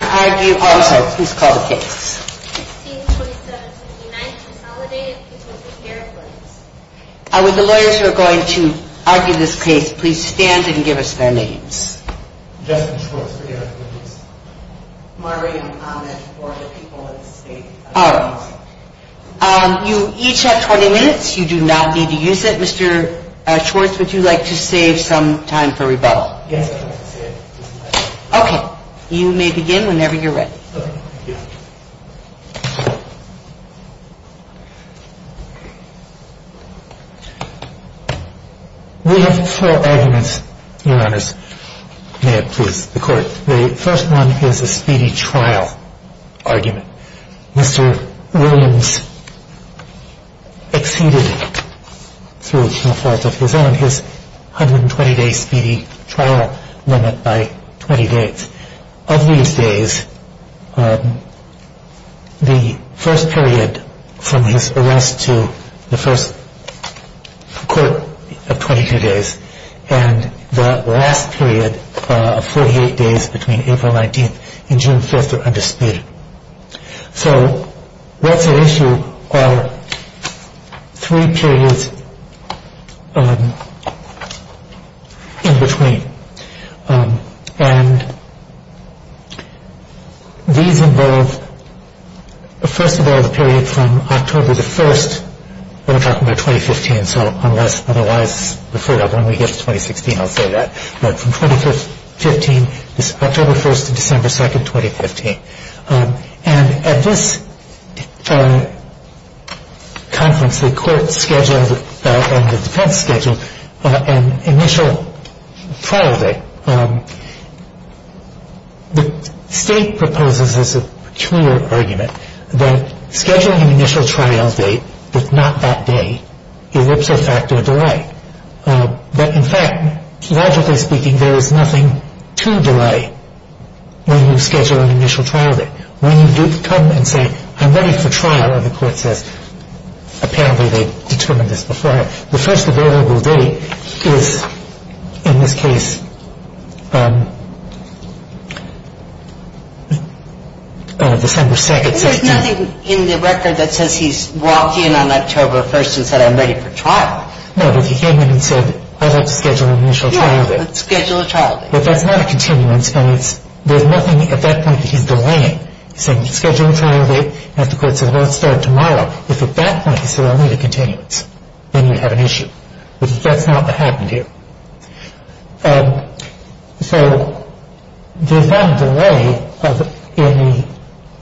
I would the lawyers who are going to argue this case please stand and give us their names. You each have 20 minutes. You do not need to use it. Mr. Schwartz, would you like to We have four arguments, Your Honors. May it please the Court. The first one is a speedy trial argument. Mr. Williams exceeded, through no fault of his own, his 120-day speedy trial limit by 20 days. Of these days, we have not had a speedy trial. That is the first period from his arrest to the first court of 22 days and the last period of 48 days between April 19th and June 5th are undisputed. So what's at issue are three periods in between. These involve, first of all, the period from October 1st to December 2nd, 2015. And at this conference, the court scheduled and the defense scheduled an initial trial date. The state proposes as a clear argument that scheduling an initial trial date, if not that day, elipses a factor of delay. But in fact, logically speaking, there is nothing to delay when you schedule an initial trial date. When you come and say, I'm ready for trial, the court says, apparently they determined this before. The first available date is, in this case, December 2nd. There's nothing in the record that says he's walked in on October 1st and said, I'm ready for trial. No, but he came in and said, I'd like to schedule an initial trial date. Yeah, let's schedule a trial date. But that's not a continuance, and there's nothing at that point that he's delaying. He's saying, schedule a trial date. And if the court says, well, let's start tomorrow, if at that point he said, I'll need a continuance, then you have an issue. But that's not what happened here. So there's not a delay in the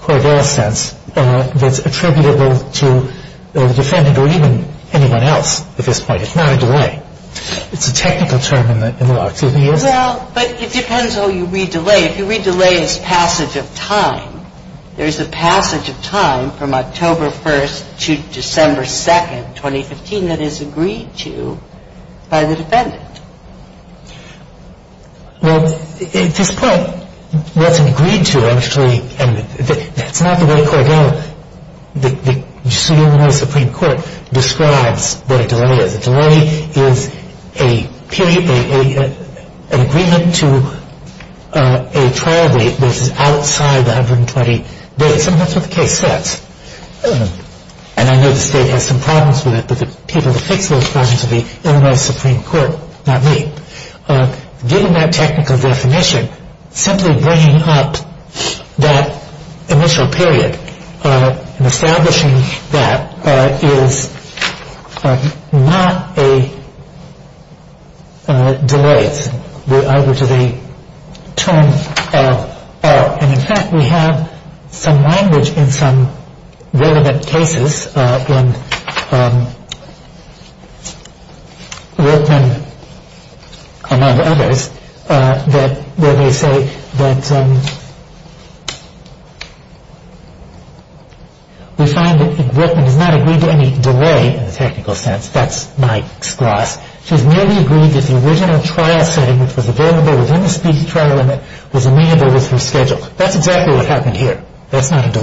Cordell sense that's attributable to the defendant or even anyone else at this point. It's not a delay. It's a technical term in the law. Well, but it depends how you read delay. If you read delay as passage of time, there's a passage of time from October 1st to December 2nd, 2015, that is agreed to by the defendant. Well, at this point, that's agreed to, actually, and that's not the way Cordell, the Supreme Court, describes what a delay is. A delay is a period, an agreement to a trial date that is outside the 120 days. And that's what the case says. And I know the state has some problems with it, but the people who fix those problems are the Illinois Supreme Court, not me. Given that technical definition, simply bringing up that initial period and establishing that is not a delay. And in fact, we have some language in some relevant cases in Whitman, among others, where they say that we find that Whitman has not agreed to any delay in the technical sense. That's Mike's gloss. She's merely agreed that the original trial setting, which was available within the speech trial limit, was amenable with her schedule. That's exactly what happened here. And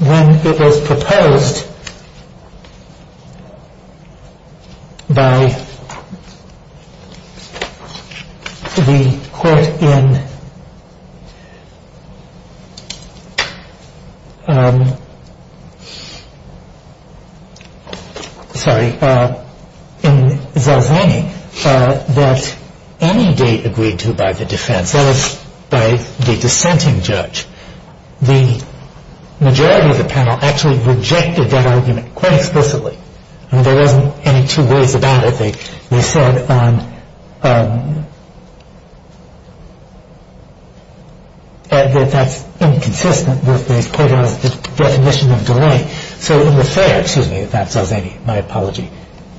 when it was proposed by the court in, sorry, in Zalzani, that any date agreed to by the defense, that is, by the dissenting judge, the majority of the panel actually rejected that argument quite explicitly. I mean, there wasn't any two ways about it. They said that that's inconsistent with Cordell's definition of delay. So in Lafayette, excuse me, that's Zalzani, my apology.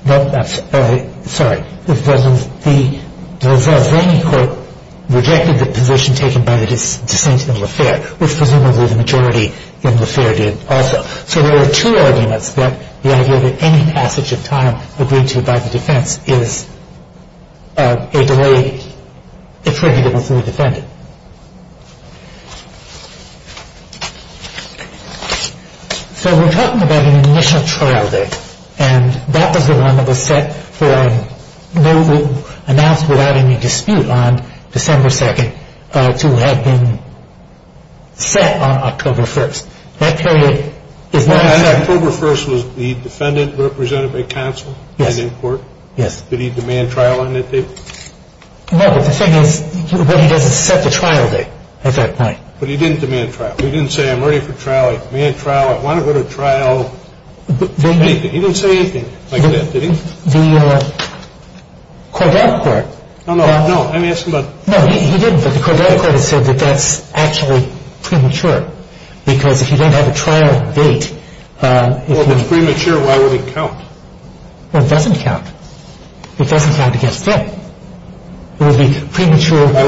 Sorry, the Zalzani court rejected the position taken by the dissent in Lafayette, which presumably the majority in Lafayette did also. So there were two arguments that the idea that any passage of time agreed to by the defense is a delay attributable to the defendant. So we're talking about an initial trial date, and that was the one that was set for, announced without any dispute on December 2nd, to have been set on October 1st. That period is now set. And October 1st was the defendant represented by counsel? Yes. And in court? Yes. Did he demand trial on that date? No, but the thing is, what he does is set the trial date at that point. But he didn't demand trial. He didn't say, I'm ready for trial. I demand trial. I want to go to trial. He didn't say anything like that, did he? The Cordell court. No, no, no. I'm asking about. No, he didn't. But the Cordell court has said that that's actually premature, because if you don't have a trial date. Well, if it's premature, why would it count? Well, it doesn't count. It doesn't count against him. It would be premature. I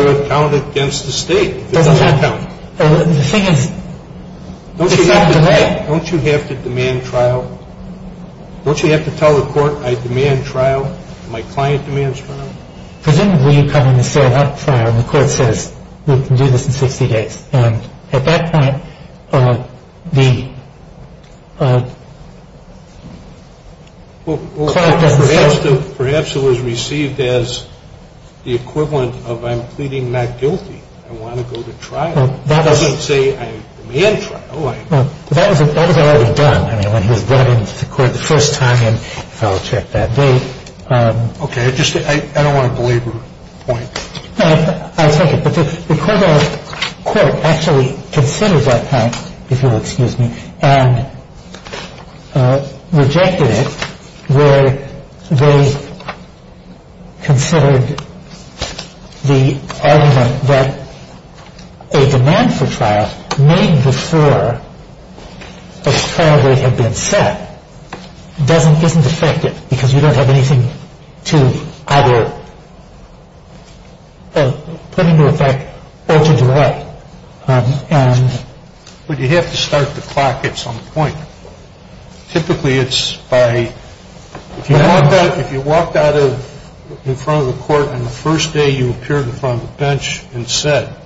would count it against the state if it doesn't count. The thing is. Don't you have to demand trial? Don't you have to tell the court, I demand trial? My client demands trial? Presumably you come in and say, I want trial. And the court says, we can do this in 60 days. And at that point, the client doesn't say. Perhaps it was received as the equivalent of, I'm pleading not guilty. I want to go to trial. It doesn't say, I demand trial. That was already done. I mean, when he was brought into court the first time and filed a check that day. Okay. I don't want to belabor the point. I'll take it. But the Coldwell court actually considered that point, if you'll excuse me, and rejected it where they considered the argument that a demand for trial made before a trial date had been set isn't effective because you don't have anything to either put into effect or to delay. But you have to start the clock at some point. Typically it's by, if you walked out in front of the court and the first day you appeared in front of the bench and said,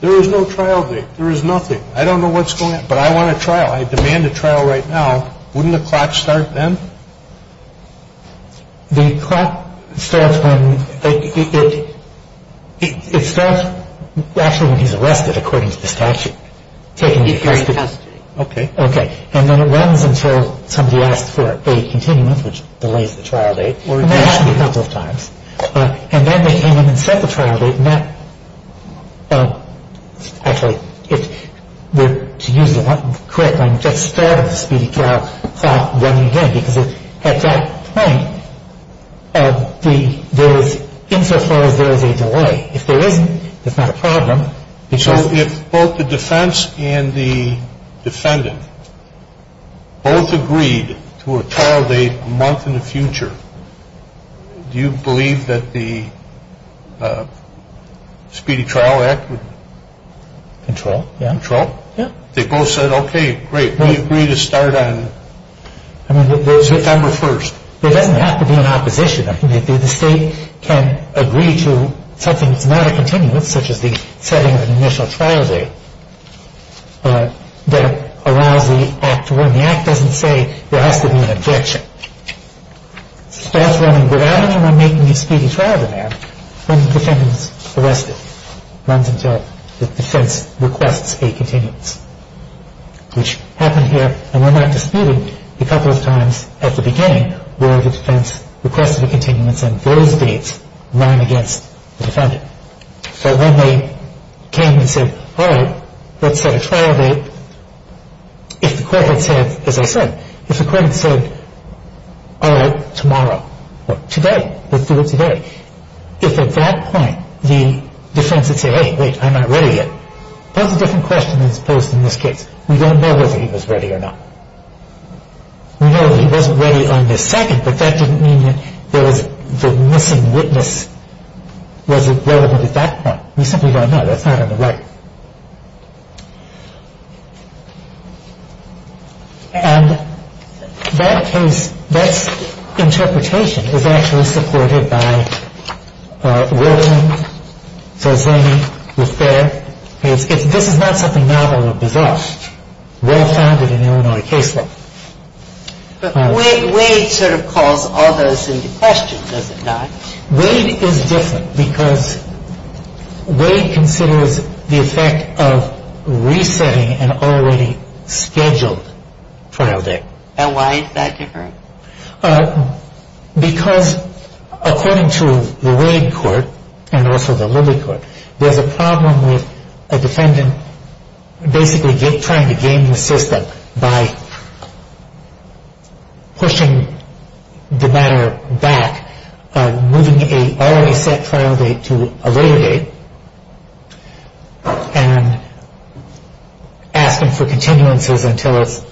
there is no trial date. There is nothing. I don't know what's going on. But I want a trial. I demand a trial right now. Wouldn't the clock start then? The clock starts when, it starts actually when he's arrested, according to the statute. Okay. Okay. And then it runs until somebody asks for a continuum, which delays the trial date. And that happens a couple of times. And then they come in and set the trial date. So if both the defense and the defendant both agreed to a trial date a month in the future, do you believe that the Speedy Trial Act would control? Yeah. They both said, okay, great. We agree to start on September 1st. There doesn't have to be an opposition. The state can agree to something that's not a continuum, such as the setting of an initial trial date, that allows the act to run. The act doesn't say there has to be an objection. It starts running without anyone making a speedy trial demand when the defendant is arrested. It runs until the defense requests a continuance, which happened here, and we're not disputing a couple of times at the beginning where the defense requested a continuance, and those dates run against the defendant. So when they came and said, all right, let's set a trial date, if the court had said, as I said, if the court had said, all right, tomorrow, or today, let's do it today, if at that point the defense had said, hey, wait, I'm not ready yet, that's a different question than is posed in this case. We don't know whether he was ready or not. We know that he wasn't ready on this second, but that didn't mean that the missing witness wasn't relevant at that point. We simply don't know. That's not on the right. And that case, that interpretation is actually supported by Wilton, Zazani, Luthier. This is not something novel or bizarre. Well-founded in the Illinois case law. But Wade sort of calls all those into question, does it not? Wade is different because Wade considers the effect of resetting an already scheduled trial date. And why is that different? Because according to the Wade court and also the Libby court, there's a problem with a defendant basically trying to game the system by pushing the matter back, moving an already set trial date to a later date, and asking for continuances until it's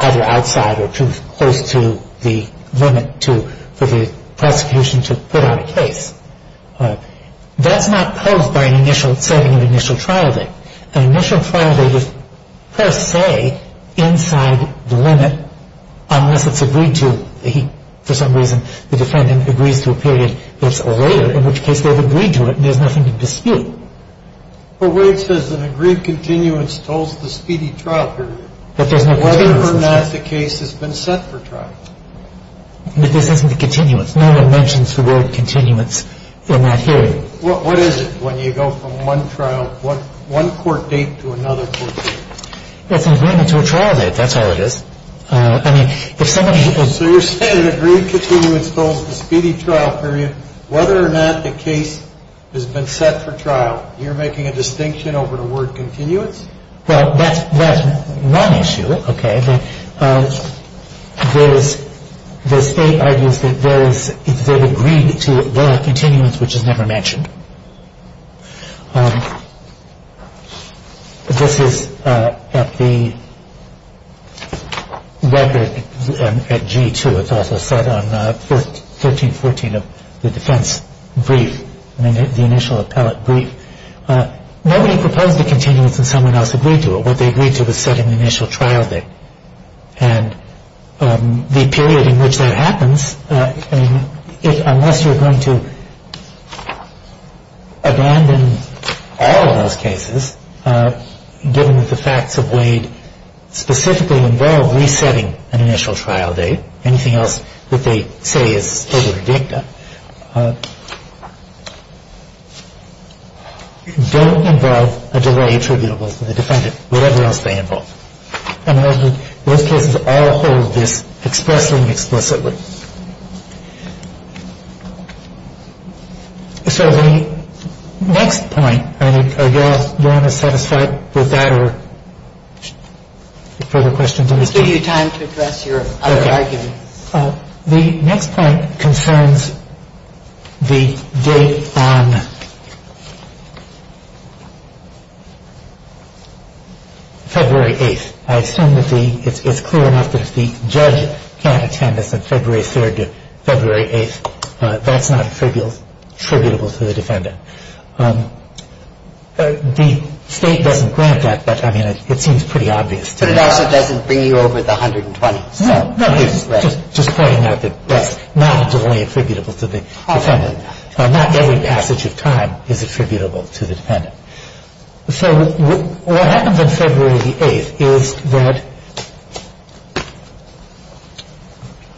either outside or too close to the limit for the prosecution to put on a case. That's not posed by setting an initial trial date. An initial trial date is per se inside the limit unless it's agreed to. For some reason, the defendant agrees to a period that's later, in which case they've agreed to it and there's nothing to dispute. But Wade says an agreed continuance tolls the speedy trial period, whether or not the case has been set for trial. But this isn't a continuance. No one mentions the word continuance in that hearing. Well, what is it when you go from one trial, one court date to another court date? It's an agreement to a trial date. That's all it is. I mean, if somebody is... So you're saying an agreed continuance tolls the speedy trial period, whether or not the case has been set for trial. You're making a distinction over the word continuance? Well, that's one issue, okay. There's eight ideas that there is... If they've agreed to it, there are continuance which is never mentioned. This is at the record at G2. It's also set on 13th, 14th of the defense brief, the initial appellate brief. Nobody proposed a continuance and someone else agreed to it. What they agreed to was setting the initial trial date. And the period in which that happens, unless you're going to abandon all of those cases, given that the facts of Wade specifically involve resetting an initial trial date, anything else that they say is over a dicta, don't involve a delay attributable to the defendant, whatever else they involve. And those cases all hold this expressly and explicitly. So the next point, I mean, are you all satisfied with that or further questions on this point? I'll give you time to address your other arguments. The next point concerns the date on February 8th. I assume that it's clear enough that if the judge can't attend this on February 3rd to February 8th, that's not attributable to the defendant. The State doesn't grant that, but, I mean, it seems pretty obvious to me. But it also doesn't bring you over the 120. Just pointing out that that's not only attributable to the defendant. Not every passage of time is attributable to the defendant. So what happens on February 8th is that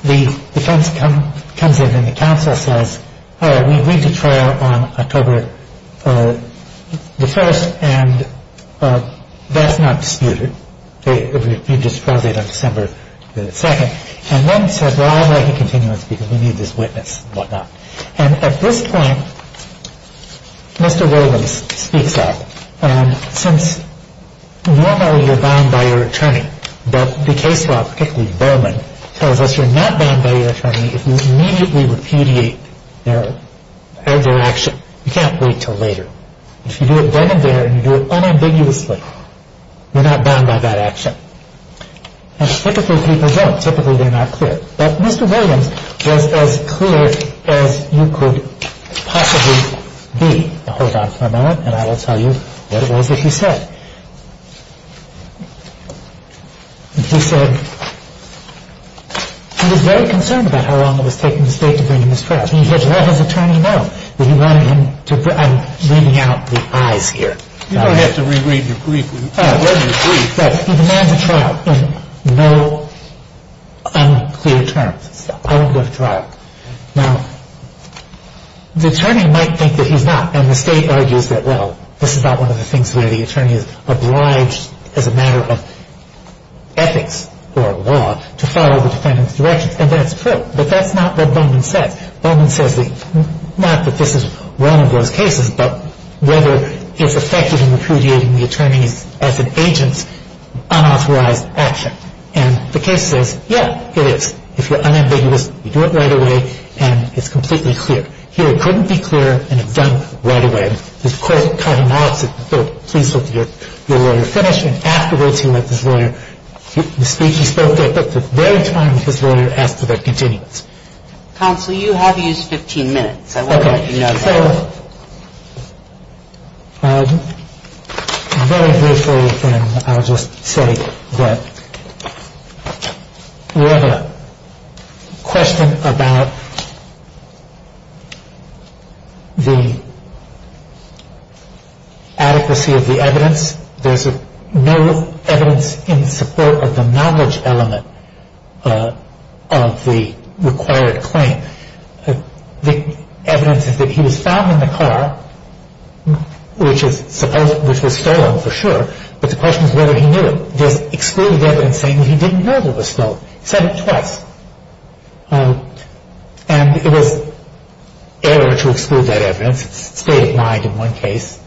the defense comes in and the counsel says, all right, we agreed to trial on October the 1st, and that's not disputed. It would be disproved on December the 2nd. And then says, well, I'd like a continuance because we need this witness and whatnot. And at this point, Mr. Rowland speaks up. Since normally you're bound by your attorney, but the case law, particularly Bowman, tells us you're not bound by your attorney if you immediately repudiate their action. You can't wait until later. If you do it then and there and you do it unambiguously, you're not bound by that action. And typically people don't. Typically they're not clear. But Mr. Williams was as clear as you could possibly be. Hold on for a moment and I will tell you what it was that he said. He said he was very concerned about how long it was taking the state to bring him to trial. He said, let his attorney know that he wanted him to bring him. I'm reading out the I's here. You don't have to reread your brief. Read your brief. But he demands a trial in no unclear terms. I don't go to trial. Now, the attorney might think that he's not, and the state argues that, well, this is not one of the things where the attorney is obliged as a matter of ethics or law to follow the defendant's directions, and that's true. But that's not what Bowman says. Bowman says not that this is one of those cases, but whether it's effective in repudiating the attorney's, as an agent's, unauthorized action. And the case says, yeah, it is. If you're unambiguous, you do it right away and it's completely clear. Here it couldn't be clearer and it's done right away. And the court cut him off, said, no, please let your lawyer finish. And afterwards, he let his lawyer speak. He spoke at the very time his lawyer asked for their continuance. Counsel, you have used 15 minutes. I want you to know that. Okay. I'm very grateful, and I'll just say that we have a question about the adequacy of the evidence. There's no evidence in support of the knowledge element of the required claim. The evidence is that he was found in the car, which was stolen for sure, but the question is whether he knew. There's excluded evidence saying that he didn't know it was stolen. He said it twice. And it was error to exclude that evidence. It stayed in mind in one case.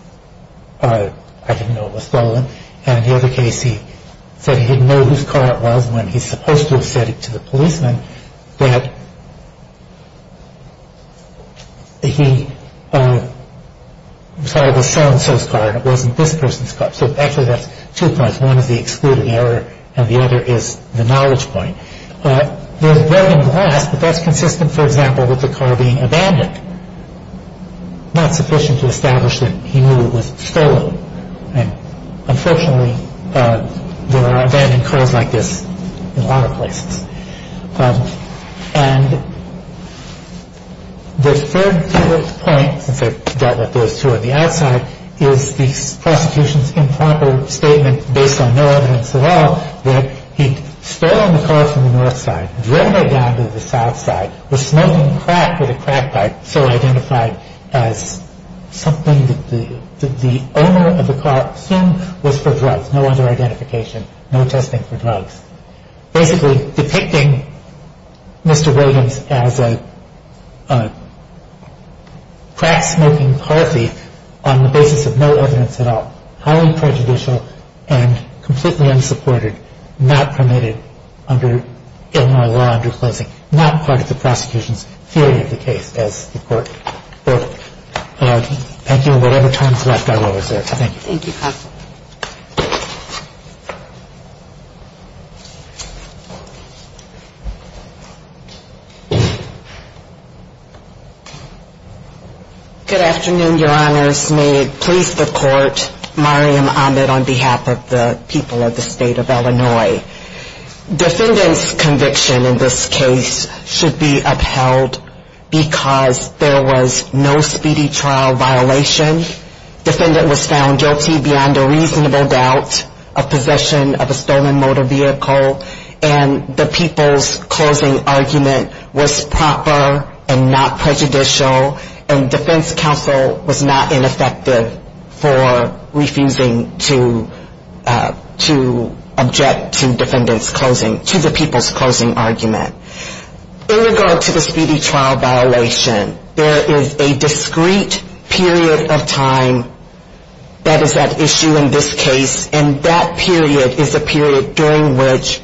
I didn't know it was stolen. And in the other case, he said he didn't know whose car it was when he's supposed to have said it to the policeman that he saw the so-and-so's car, and it wasn't this person's car. So actually, that's two parts. One is the excluded error, and the other is the knowledge point. There's broken glass, but that's consistent, for example, with the car being abandoned, not sufficient to establish that he knew it was stolen. Unfortunately, there are abandoned cars like this in a lot of places. And the third point, since I dealt with those two on the outside, is the prosecution's improper statement based on no evidence at all that he'd stolen the car from the north side, driven it down to the south side, was smoking crack at a crack pipe, so identified as something that the owner of the car assumed was for drugs. No other identification, no testing for drugs. Basically, depicting Mr. Williams as a crack-smoking car thief on the basis of no evidence at all, highly prejudicial and completely unsupported, not permitted under Illinois law under closing, not part of the prosecution's theory of the case as the court voted. Thank you. Whatever time is left, I will reserve. Thank you. Thank you, counsel. Good afternoon, Your Honors. May it please the Court, Mariam Ahmed on behalf of the people of the State of Illinois. Defendant's conviction in this case should be upheld because there was no speedy trial violation. Defendant was found guilty beyond a reasonable doubt of possession of a stolen motor vehicle, and the people's closing argument was proper and not prejudicial, and defense counsel was not ineffective for refusing to object to defendant's closing, to the people's closing argument. In regard to the speedy trial violation, there is a discrete period of time that is at issue in this case, and that period is a period during which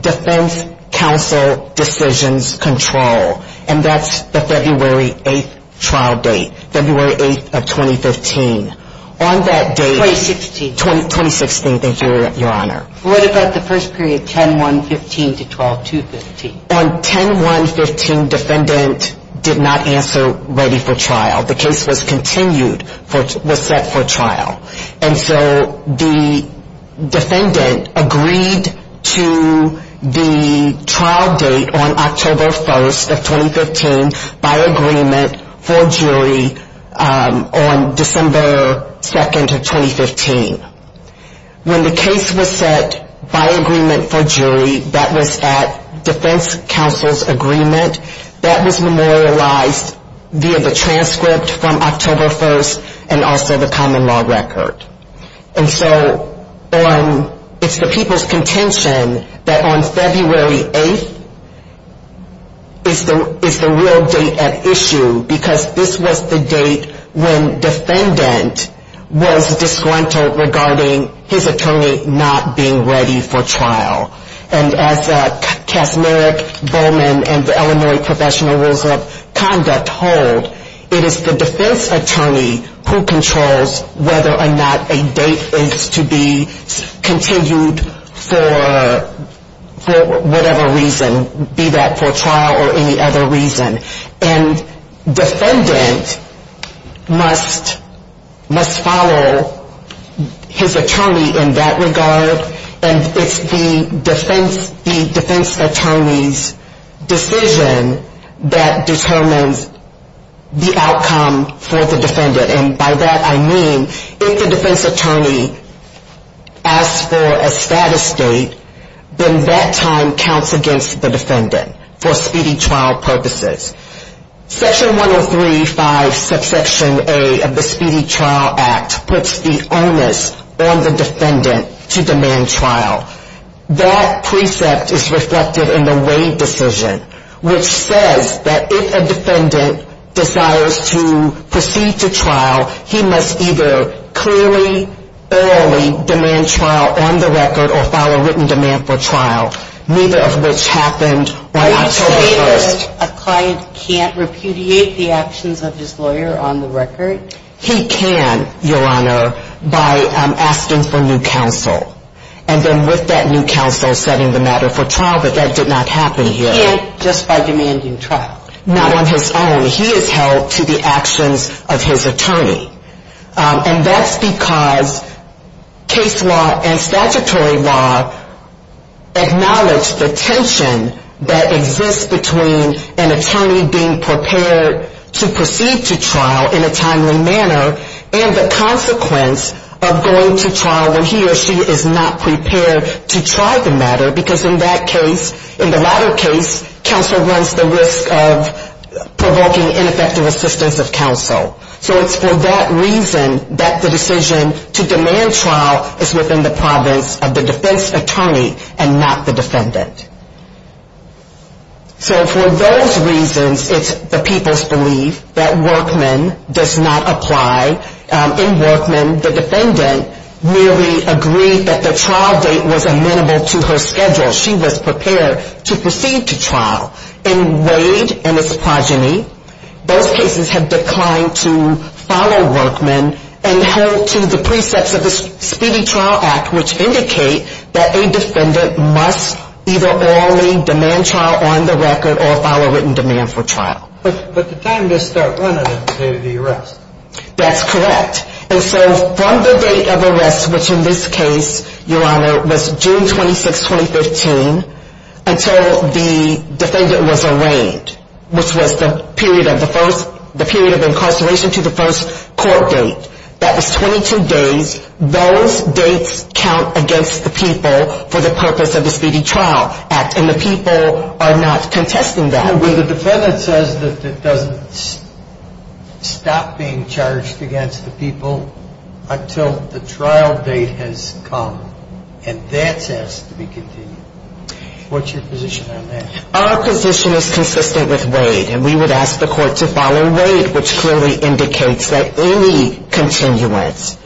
defense counsel decisions control, and that's the February 8th trial date, February 8th of 2015. On that date... 2016. 2016, thank you, Your Honor. What about the first period, 10-1-15 to 12-2-15? On 10-1-15, defendant did not answer ready for trial. The case was continued, was set for trial, and so the defendant agreed to the trial date on October 1st of 2015 by agreement for jury on December 2nd of 2015. When the case was set by agreement for jury, that was at defense counsel's agreement. That was memorialized via the transcript from October 1st, and also the common law record. And so it's the people's contention that on February 8th is the real date at issue, because this was the date when defendant was disgruntled regarding his attorney not being ready for trial. And as Casmeric Bowman and the Illinois Professional Rules of Conduct hold, it is the defense attorney who controls whether or not a date is to be continued for whatever reason, be that for trial or any other reason. And defendant must follow his attorney in that regard, and it's the defense attorney's decision that determines the outcome for the defendant. And by that I mean if the defense attorney asks for a status date, then that time counts against the defendant for speedy trial purposes. Section 103.5 subsection A of the Speedy Trial Act puts the onus on the defendant to demand trial. That precept is reflected in the Wade decision, which says that if a defendant desires to proceed to trial, he must either clearly, early demand trial on the record or file a written demand for trial, neither of which happened right on October 1st. He can, Your Honor, by asking for new counsel, and then with that new counsel setting the matter for trial, but that did not happen here. Not on his own. And that's because case law and statutory law acknowledge the tension that exists between an attorney being prepared to proceed to trial in a timely manner, and the consequence of going to trial when he or she is not prepared to try the matter, because in that case, in the latter case, counsel runs the risk of provoking ineffective assistance of counsel. So it's for that reason that the decision to demand trial is within the province of the defense attorney and not the defendant. So for those reasons, it's the people's belief that Workman does not apply. In Workman, the defendant merely agreed that the trial date was amenable to her schedule. She was prepared to proceed to trial. In Wade and his progeny, those cases have declined to follow Workman and hold to the precepts of the Speedy Trial Act, which indicate that a defendant must either early demand trial on the record or file a written demand for trial. But the time to start running them is the day of the arrest. That's correct. And so from the date of arrest, which in this case, Your Honor, was June 26, 2015, until the defendant was arraigned, which was the period of incarceration to the first court date, that was 22 days. Those dates count against the people for the purpose of the Speedy Trial Act, and the people are not contesting that. So when the defendant says that it doesn't stop being charged against the people until the trial date has come, and that has to be continued, what's your position on that? Our position is consistent with Wade, and we would ask the court to follow Wade, which clearly indicates that any continuance,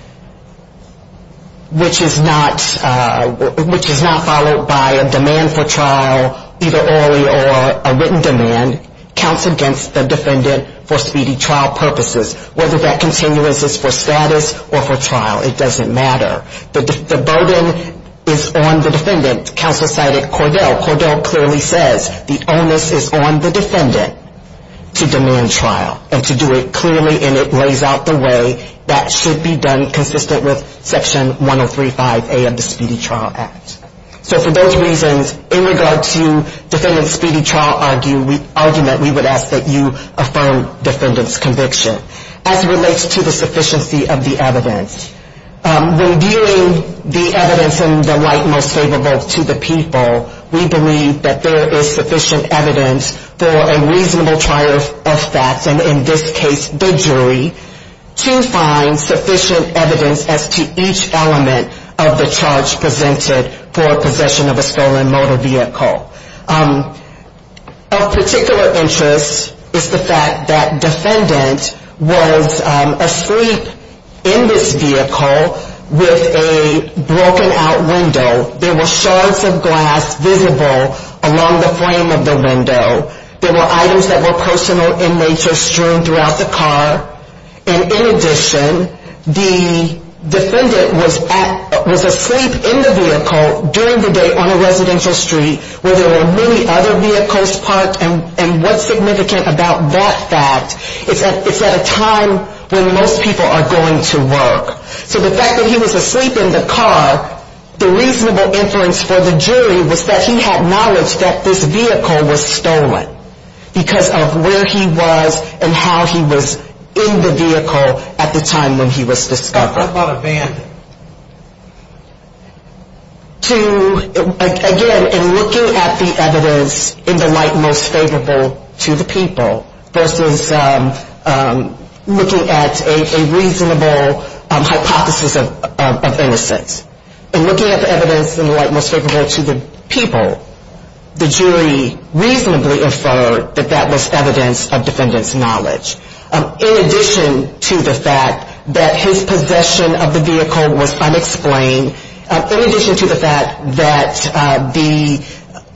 which is not followed by a demand for trial, either early or a written demand, counts against the defendant for Speedy Trial purposes. Whether that continuance is for status or for trial, it doesn't matter. The burden is on the defendant, counsel cited Cordell. Cordell clearly says the onus is on the defendant to demand trial, and to do it clearly, and it lays out the way that should be done, consistent with Section 1035A of the Speedy Trial Act. So for those reasons, in regard to defendant's Speedy Trial argument, we would ask that you affirm defendant's conviction. As relates to the sufficiency of the evidence. When viewing the evidence in the light most favorable to the people, we believe that there is sufficient evidence for a reasonable trial of facts, and in this case, the jury, to find sufficient evidence as to each element of the charge presented for possession of a stolen motor vehicle. Of particular interest is the fact that defendant was asleep in this vehicle, and was not able to get out. There was a broken out window, there were shards of glass visible along the frame of the window. There were items that were personal in nature strewn throughout the car. And in addition, the defendant was asleep in the vehicle during the day on a residential street, where there were many other vehicles parked. And what's significant about that fact is that it's at a time when most people are going to work. So the fact that he was asleep in the car, the reasonable inference for the jury was that he had knowledge that this vehicle was stolen. Because of where he was, and how he was in the vehicle at the time when he was discovered. What about a van? To, again, in looking at the evidence in the light most favorable to the people, versus looking at a reasonable hypothesis, and looking at the evidence in the light most favorable to the people, the jury reasonably inferred that that was evidence of defendant's knowledge. In addition to the fact that his possession of the vehicle was unexplained. In addition to the fact that the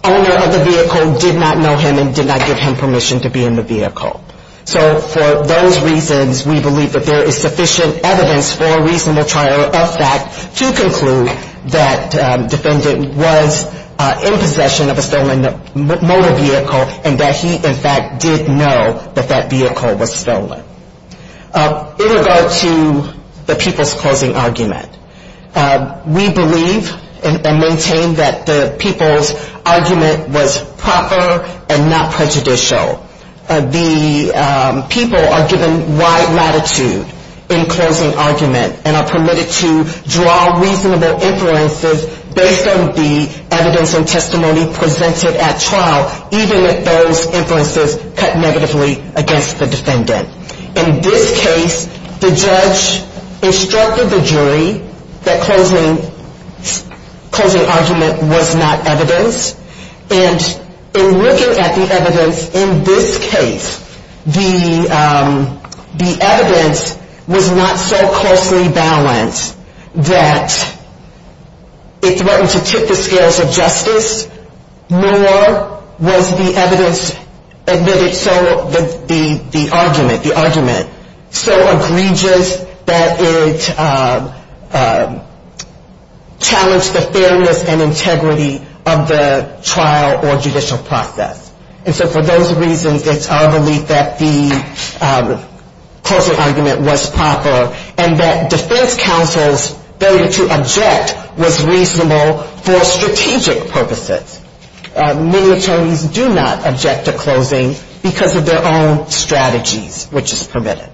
owner of the vehicle did not know him, and did not give him permission to be in the vehicle. So for those reasons, we believe that there is sufficient evidence for a reasonable trial of fact to conclude that defendant was in possession of a stolen motor vehicle, and that he, in fact, did know that that vehicle was stolen. In regard to the people's closing argument, we believe and maintain that the people's argument was proper and not prejudicial. The people are given wide latitude in closing argument, and are permitted to draw reasonable inferences based on the evidence and testimony presented at trial, even if those inferences cut negatively against the defendant. In this case, the judge instructed the jury that closing argument was not evidence. And in looking at the evidence in this case, the evidence was not so closely balanced that it threatened to tip the scales of justice, nor was the evidence admitted so that the argument, the argument, so egregious that it challenged the fairness and integrity of the defense. And so for those reasons, it's our belief that the closing argument was proper, and that defense counsel's failure to object was reasonable for strategic purposes. Many attorneys do not object to closing because of their own strategies, which is permitted.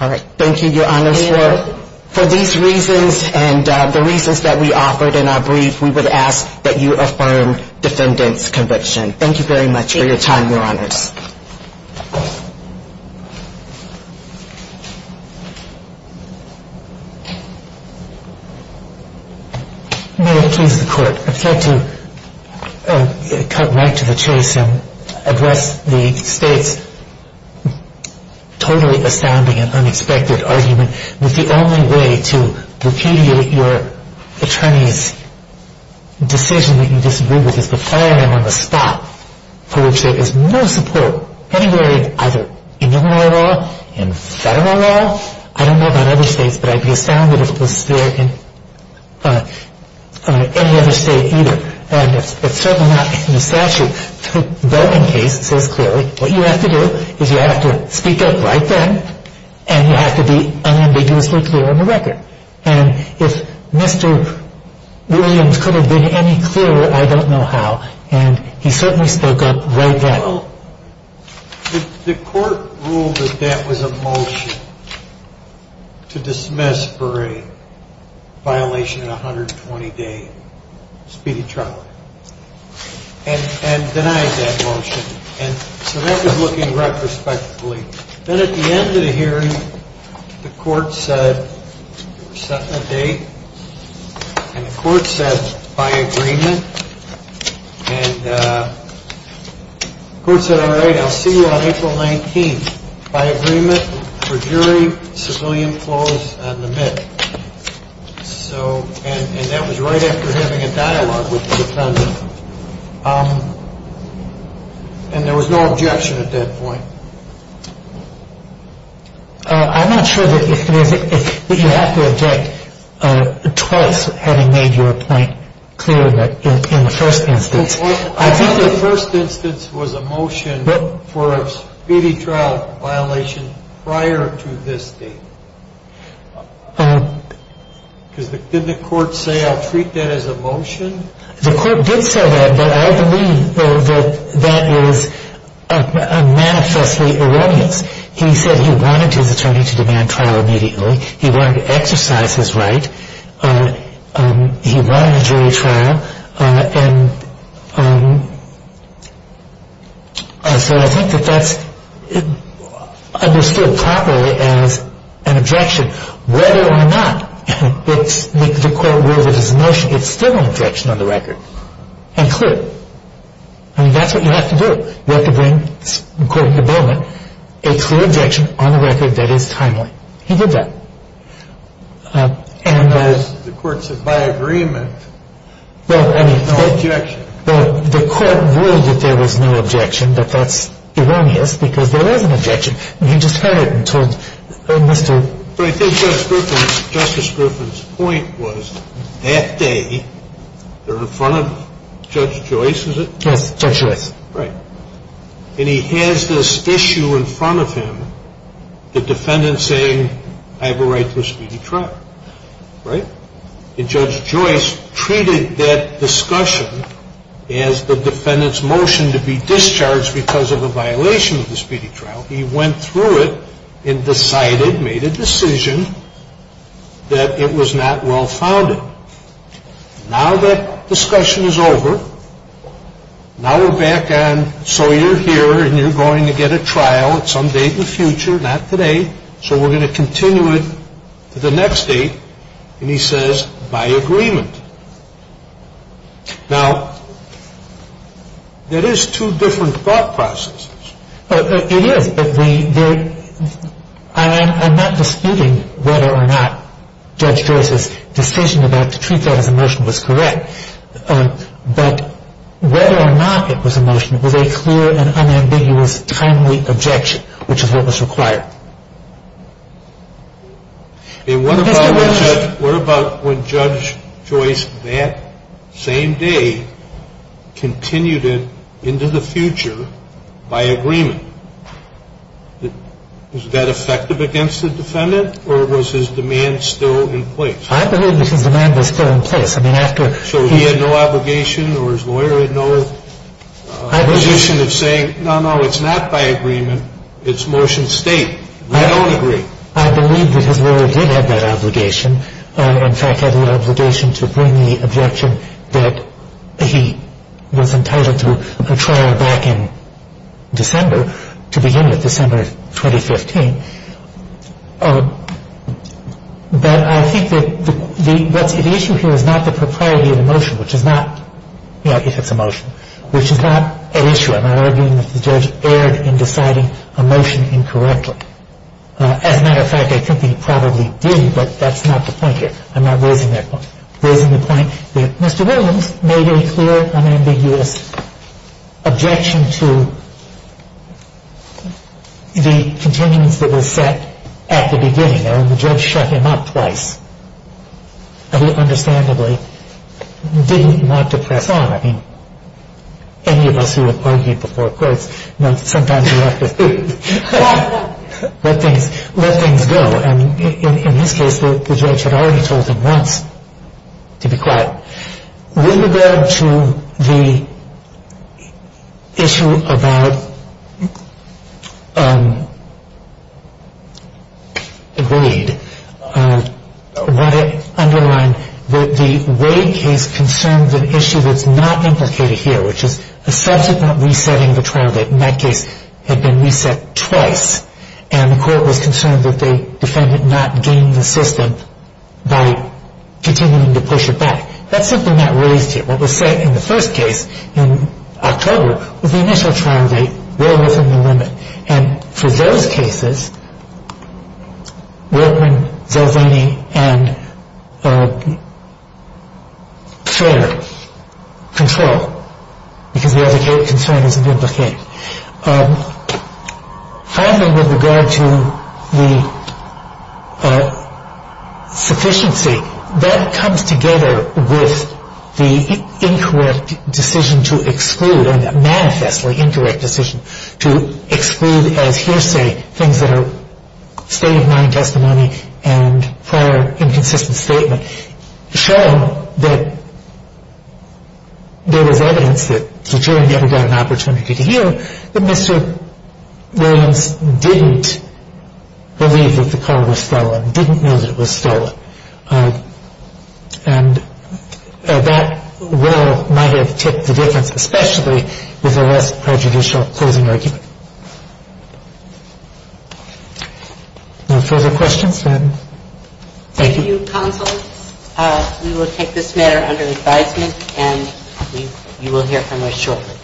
And so for those reasons, we believe that the closing argument was not so close that it threatened to tip the scales of justice, nor was the evidence admitted so that the argument, the evidence, so egregious that it challenged the fairness and integrity of the defense. All right, thank you, Your Honors. For these reasons and the reasons that we offered in our brief, we would ask that you affirm defendant's conviction. Thank you very much for your time, Your Honors. May I please the Court? I'd like to cut right to the chase and address the State's totally astounding and unexpected argument that the only way to repudiate your attorney's decision that you disagree with is to fire him on the spot, for which there is no support anywhere in either Illinois law, in federal law. I don't know about other states, but I'd be astounded if it was there in any other state either. And it's certainly not in the statute. But in case it says clearly, what you have to do is you have to speak up right then, and you have to be unambiguously clear on the record. And if Mr. Williams could have been any clearer, I don't know how. And he certainly spoke up right then. Well, the Court ruled that that was a motion to dismiss for a violation in a 120-day speedy trial and denied that motion. And so that was looking retrospectively. Then at the end of the hearing, the Court set a date, and the Court said, by agreement. And the Court said, all right, I'll see you on April 19th. By agreement, the jury, civilian, closed on the minute. And that was right after having a dialogue with the defendant. And there was no objection at that point. I'm not sure that you have to object twice, having made your point clear in the first instance. I think the first instance was a motion for a speedy trial violation prior to this date. Did the Court say, I'll treat that as a motion? The Court did say that, but I believe that that is manifestly erroneous. He said he wanted his attorney to demand trial immediately. He wanted to exercise his right. He wanted a jury trial. And so I think that that's understood properly as an objection. Whether or not the Court ruled that it's a motion, it's still an objection on the record and clear. I mean, that's what you have to do. You have to bring, according to Bowman, a clear objection on a record that is timely. He did that. And the Court said, by agreement. Well, I mean, the Court ruled that there was no objection, but that's erroneous because there was an objection. And he just had it until Mr. But I think Justice Griffin's point was that day, they're in front of Judge Joyce, is it? Yes, Judge Joyce. Right. And he has this issue in front of him, the defendant saying, I have a right to a speedy trial. Right? And Judge Joyce treated that discussion as the defendant's motion to be discharged because of a violation of the speedy trial. He went through it and decided, made a decision, that it was not well-founded. Now that discussion is over, now we're back on, so you're here and you're going to get a trial at some date in the future. Not today. So we're going to continue it to the next date. And he says, by agreement. Now, that is two different thought processes. It is, but I'm not disputing whether or not Judge Joyce's decision to treat that as a motion was correct. But whether or not it was a motion was a clear and unambiguous timely objection, which is what was required. And what about when Judge Joyce that same day continued it into the future by agreement? Was that effective against the defendant, or was his demand still in place? I believe his demand was still in place. I mean, after he had no obligation or his lawyer had no position of saying, no, no, it's not by agreement, it's motion state. I don't agree. I believe that his lawyer did have that obligation. In fact, had the obligation to bring the objection that he was entitled to a trial back in December, to begin with, December 2015. But I think that the issue here is not the propriety of the motion, which is not, you know, if it's a motion, which is not an issue. I'm not arguing that the judge erred in deciding a motion incorrectly. As a matter of fact, I think he probably did, but that's not the point here. I'm not raising that point. I'm raising the point that Mr. Williams made a clear, unambiguous objection to the continuance that was set at the beginning. The judge shut him up twice. He, understandably, did not depress on. I mean, any of us who have argued before courts, you know, sometimes you have to let things go. And in this case, the judge had already told him once to be quiet. With regard to the issue about Wade, I want to underline that the Wade case concerns an issue that's not implicated here, which is the subsequent resetting of a trial that, in that case, had been reset twice. And the court was concerned that the defendant not gained the system by continuing to push it back. That's something that raised here. What was set in the first case in October was the initial trial date, well within the limit. And for those cases, Workman, Zolvani, and Schrader control, because the other case concern isn't implicated. Finally, with regard to the sufficiency, that comes together with the incorrect decision to exclude, a manifestly incorrect decision to exclude as hearsay things that are state-of-mind testimony and prior inconsistent statement showing that there was evidence that the jury never got an opportunity to hear, that Mr. Williams didn't believe that the car was stolen, didn't know that it was stolen. And that well might have tipped the difference, especially with a less prejudicial closing argument. No further questions? Thank you. Thank you, counsel. We will take this matter under advisement, and you will hear from us shortly.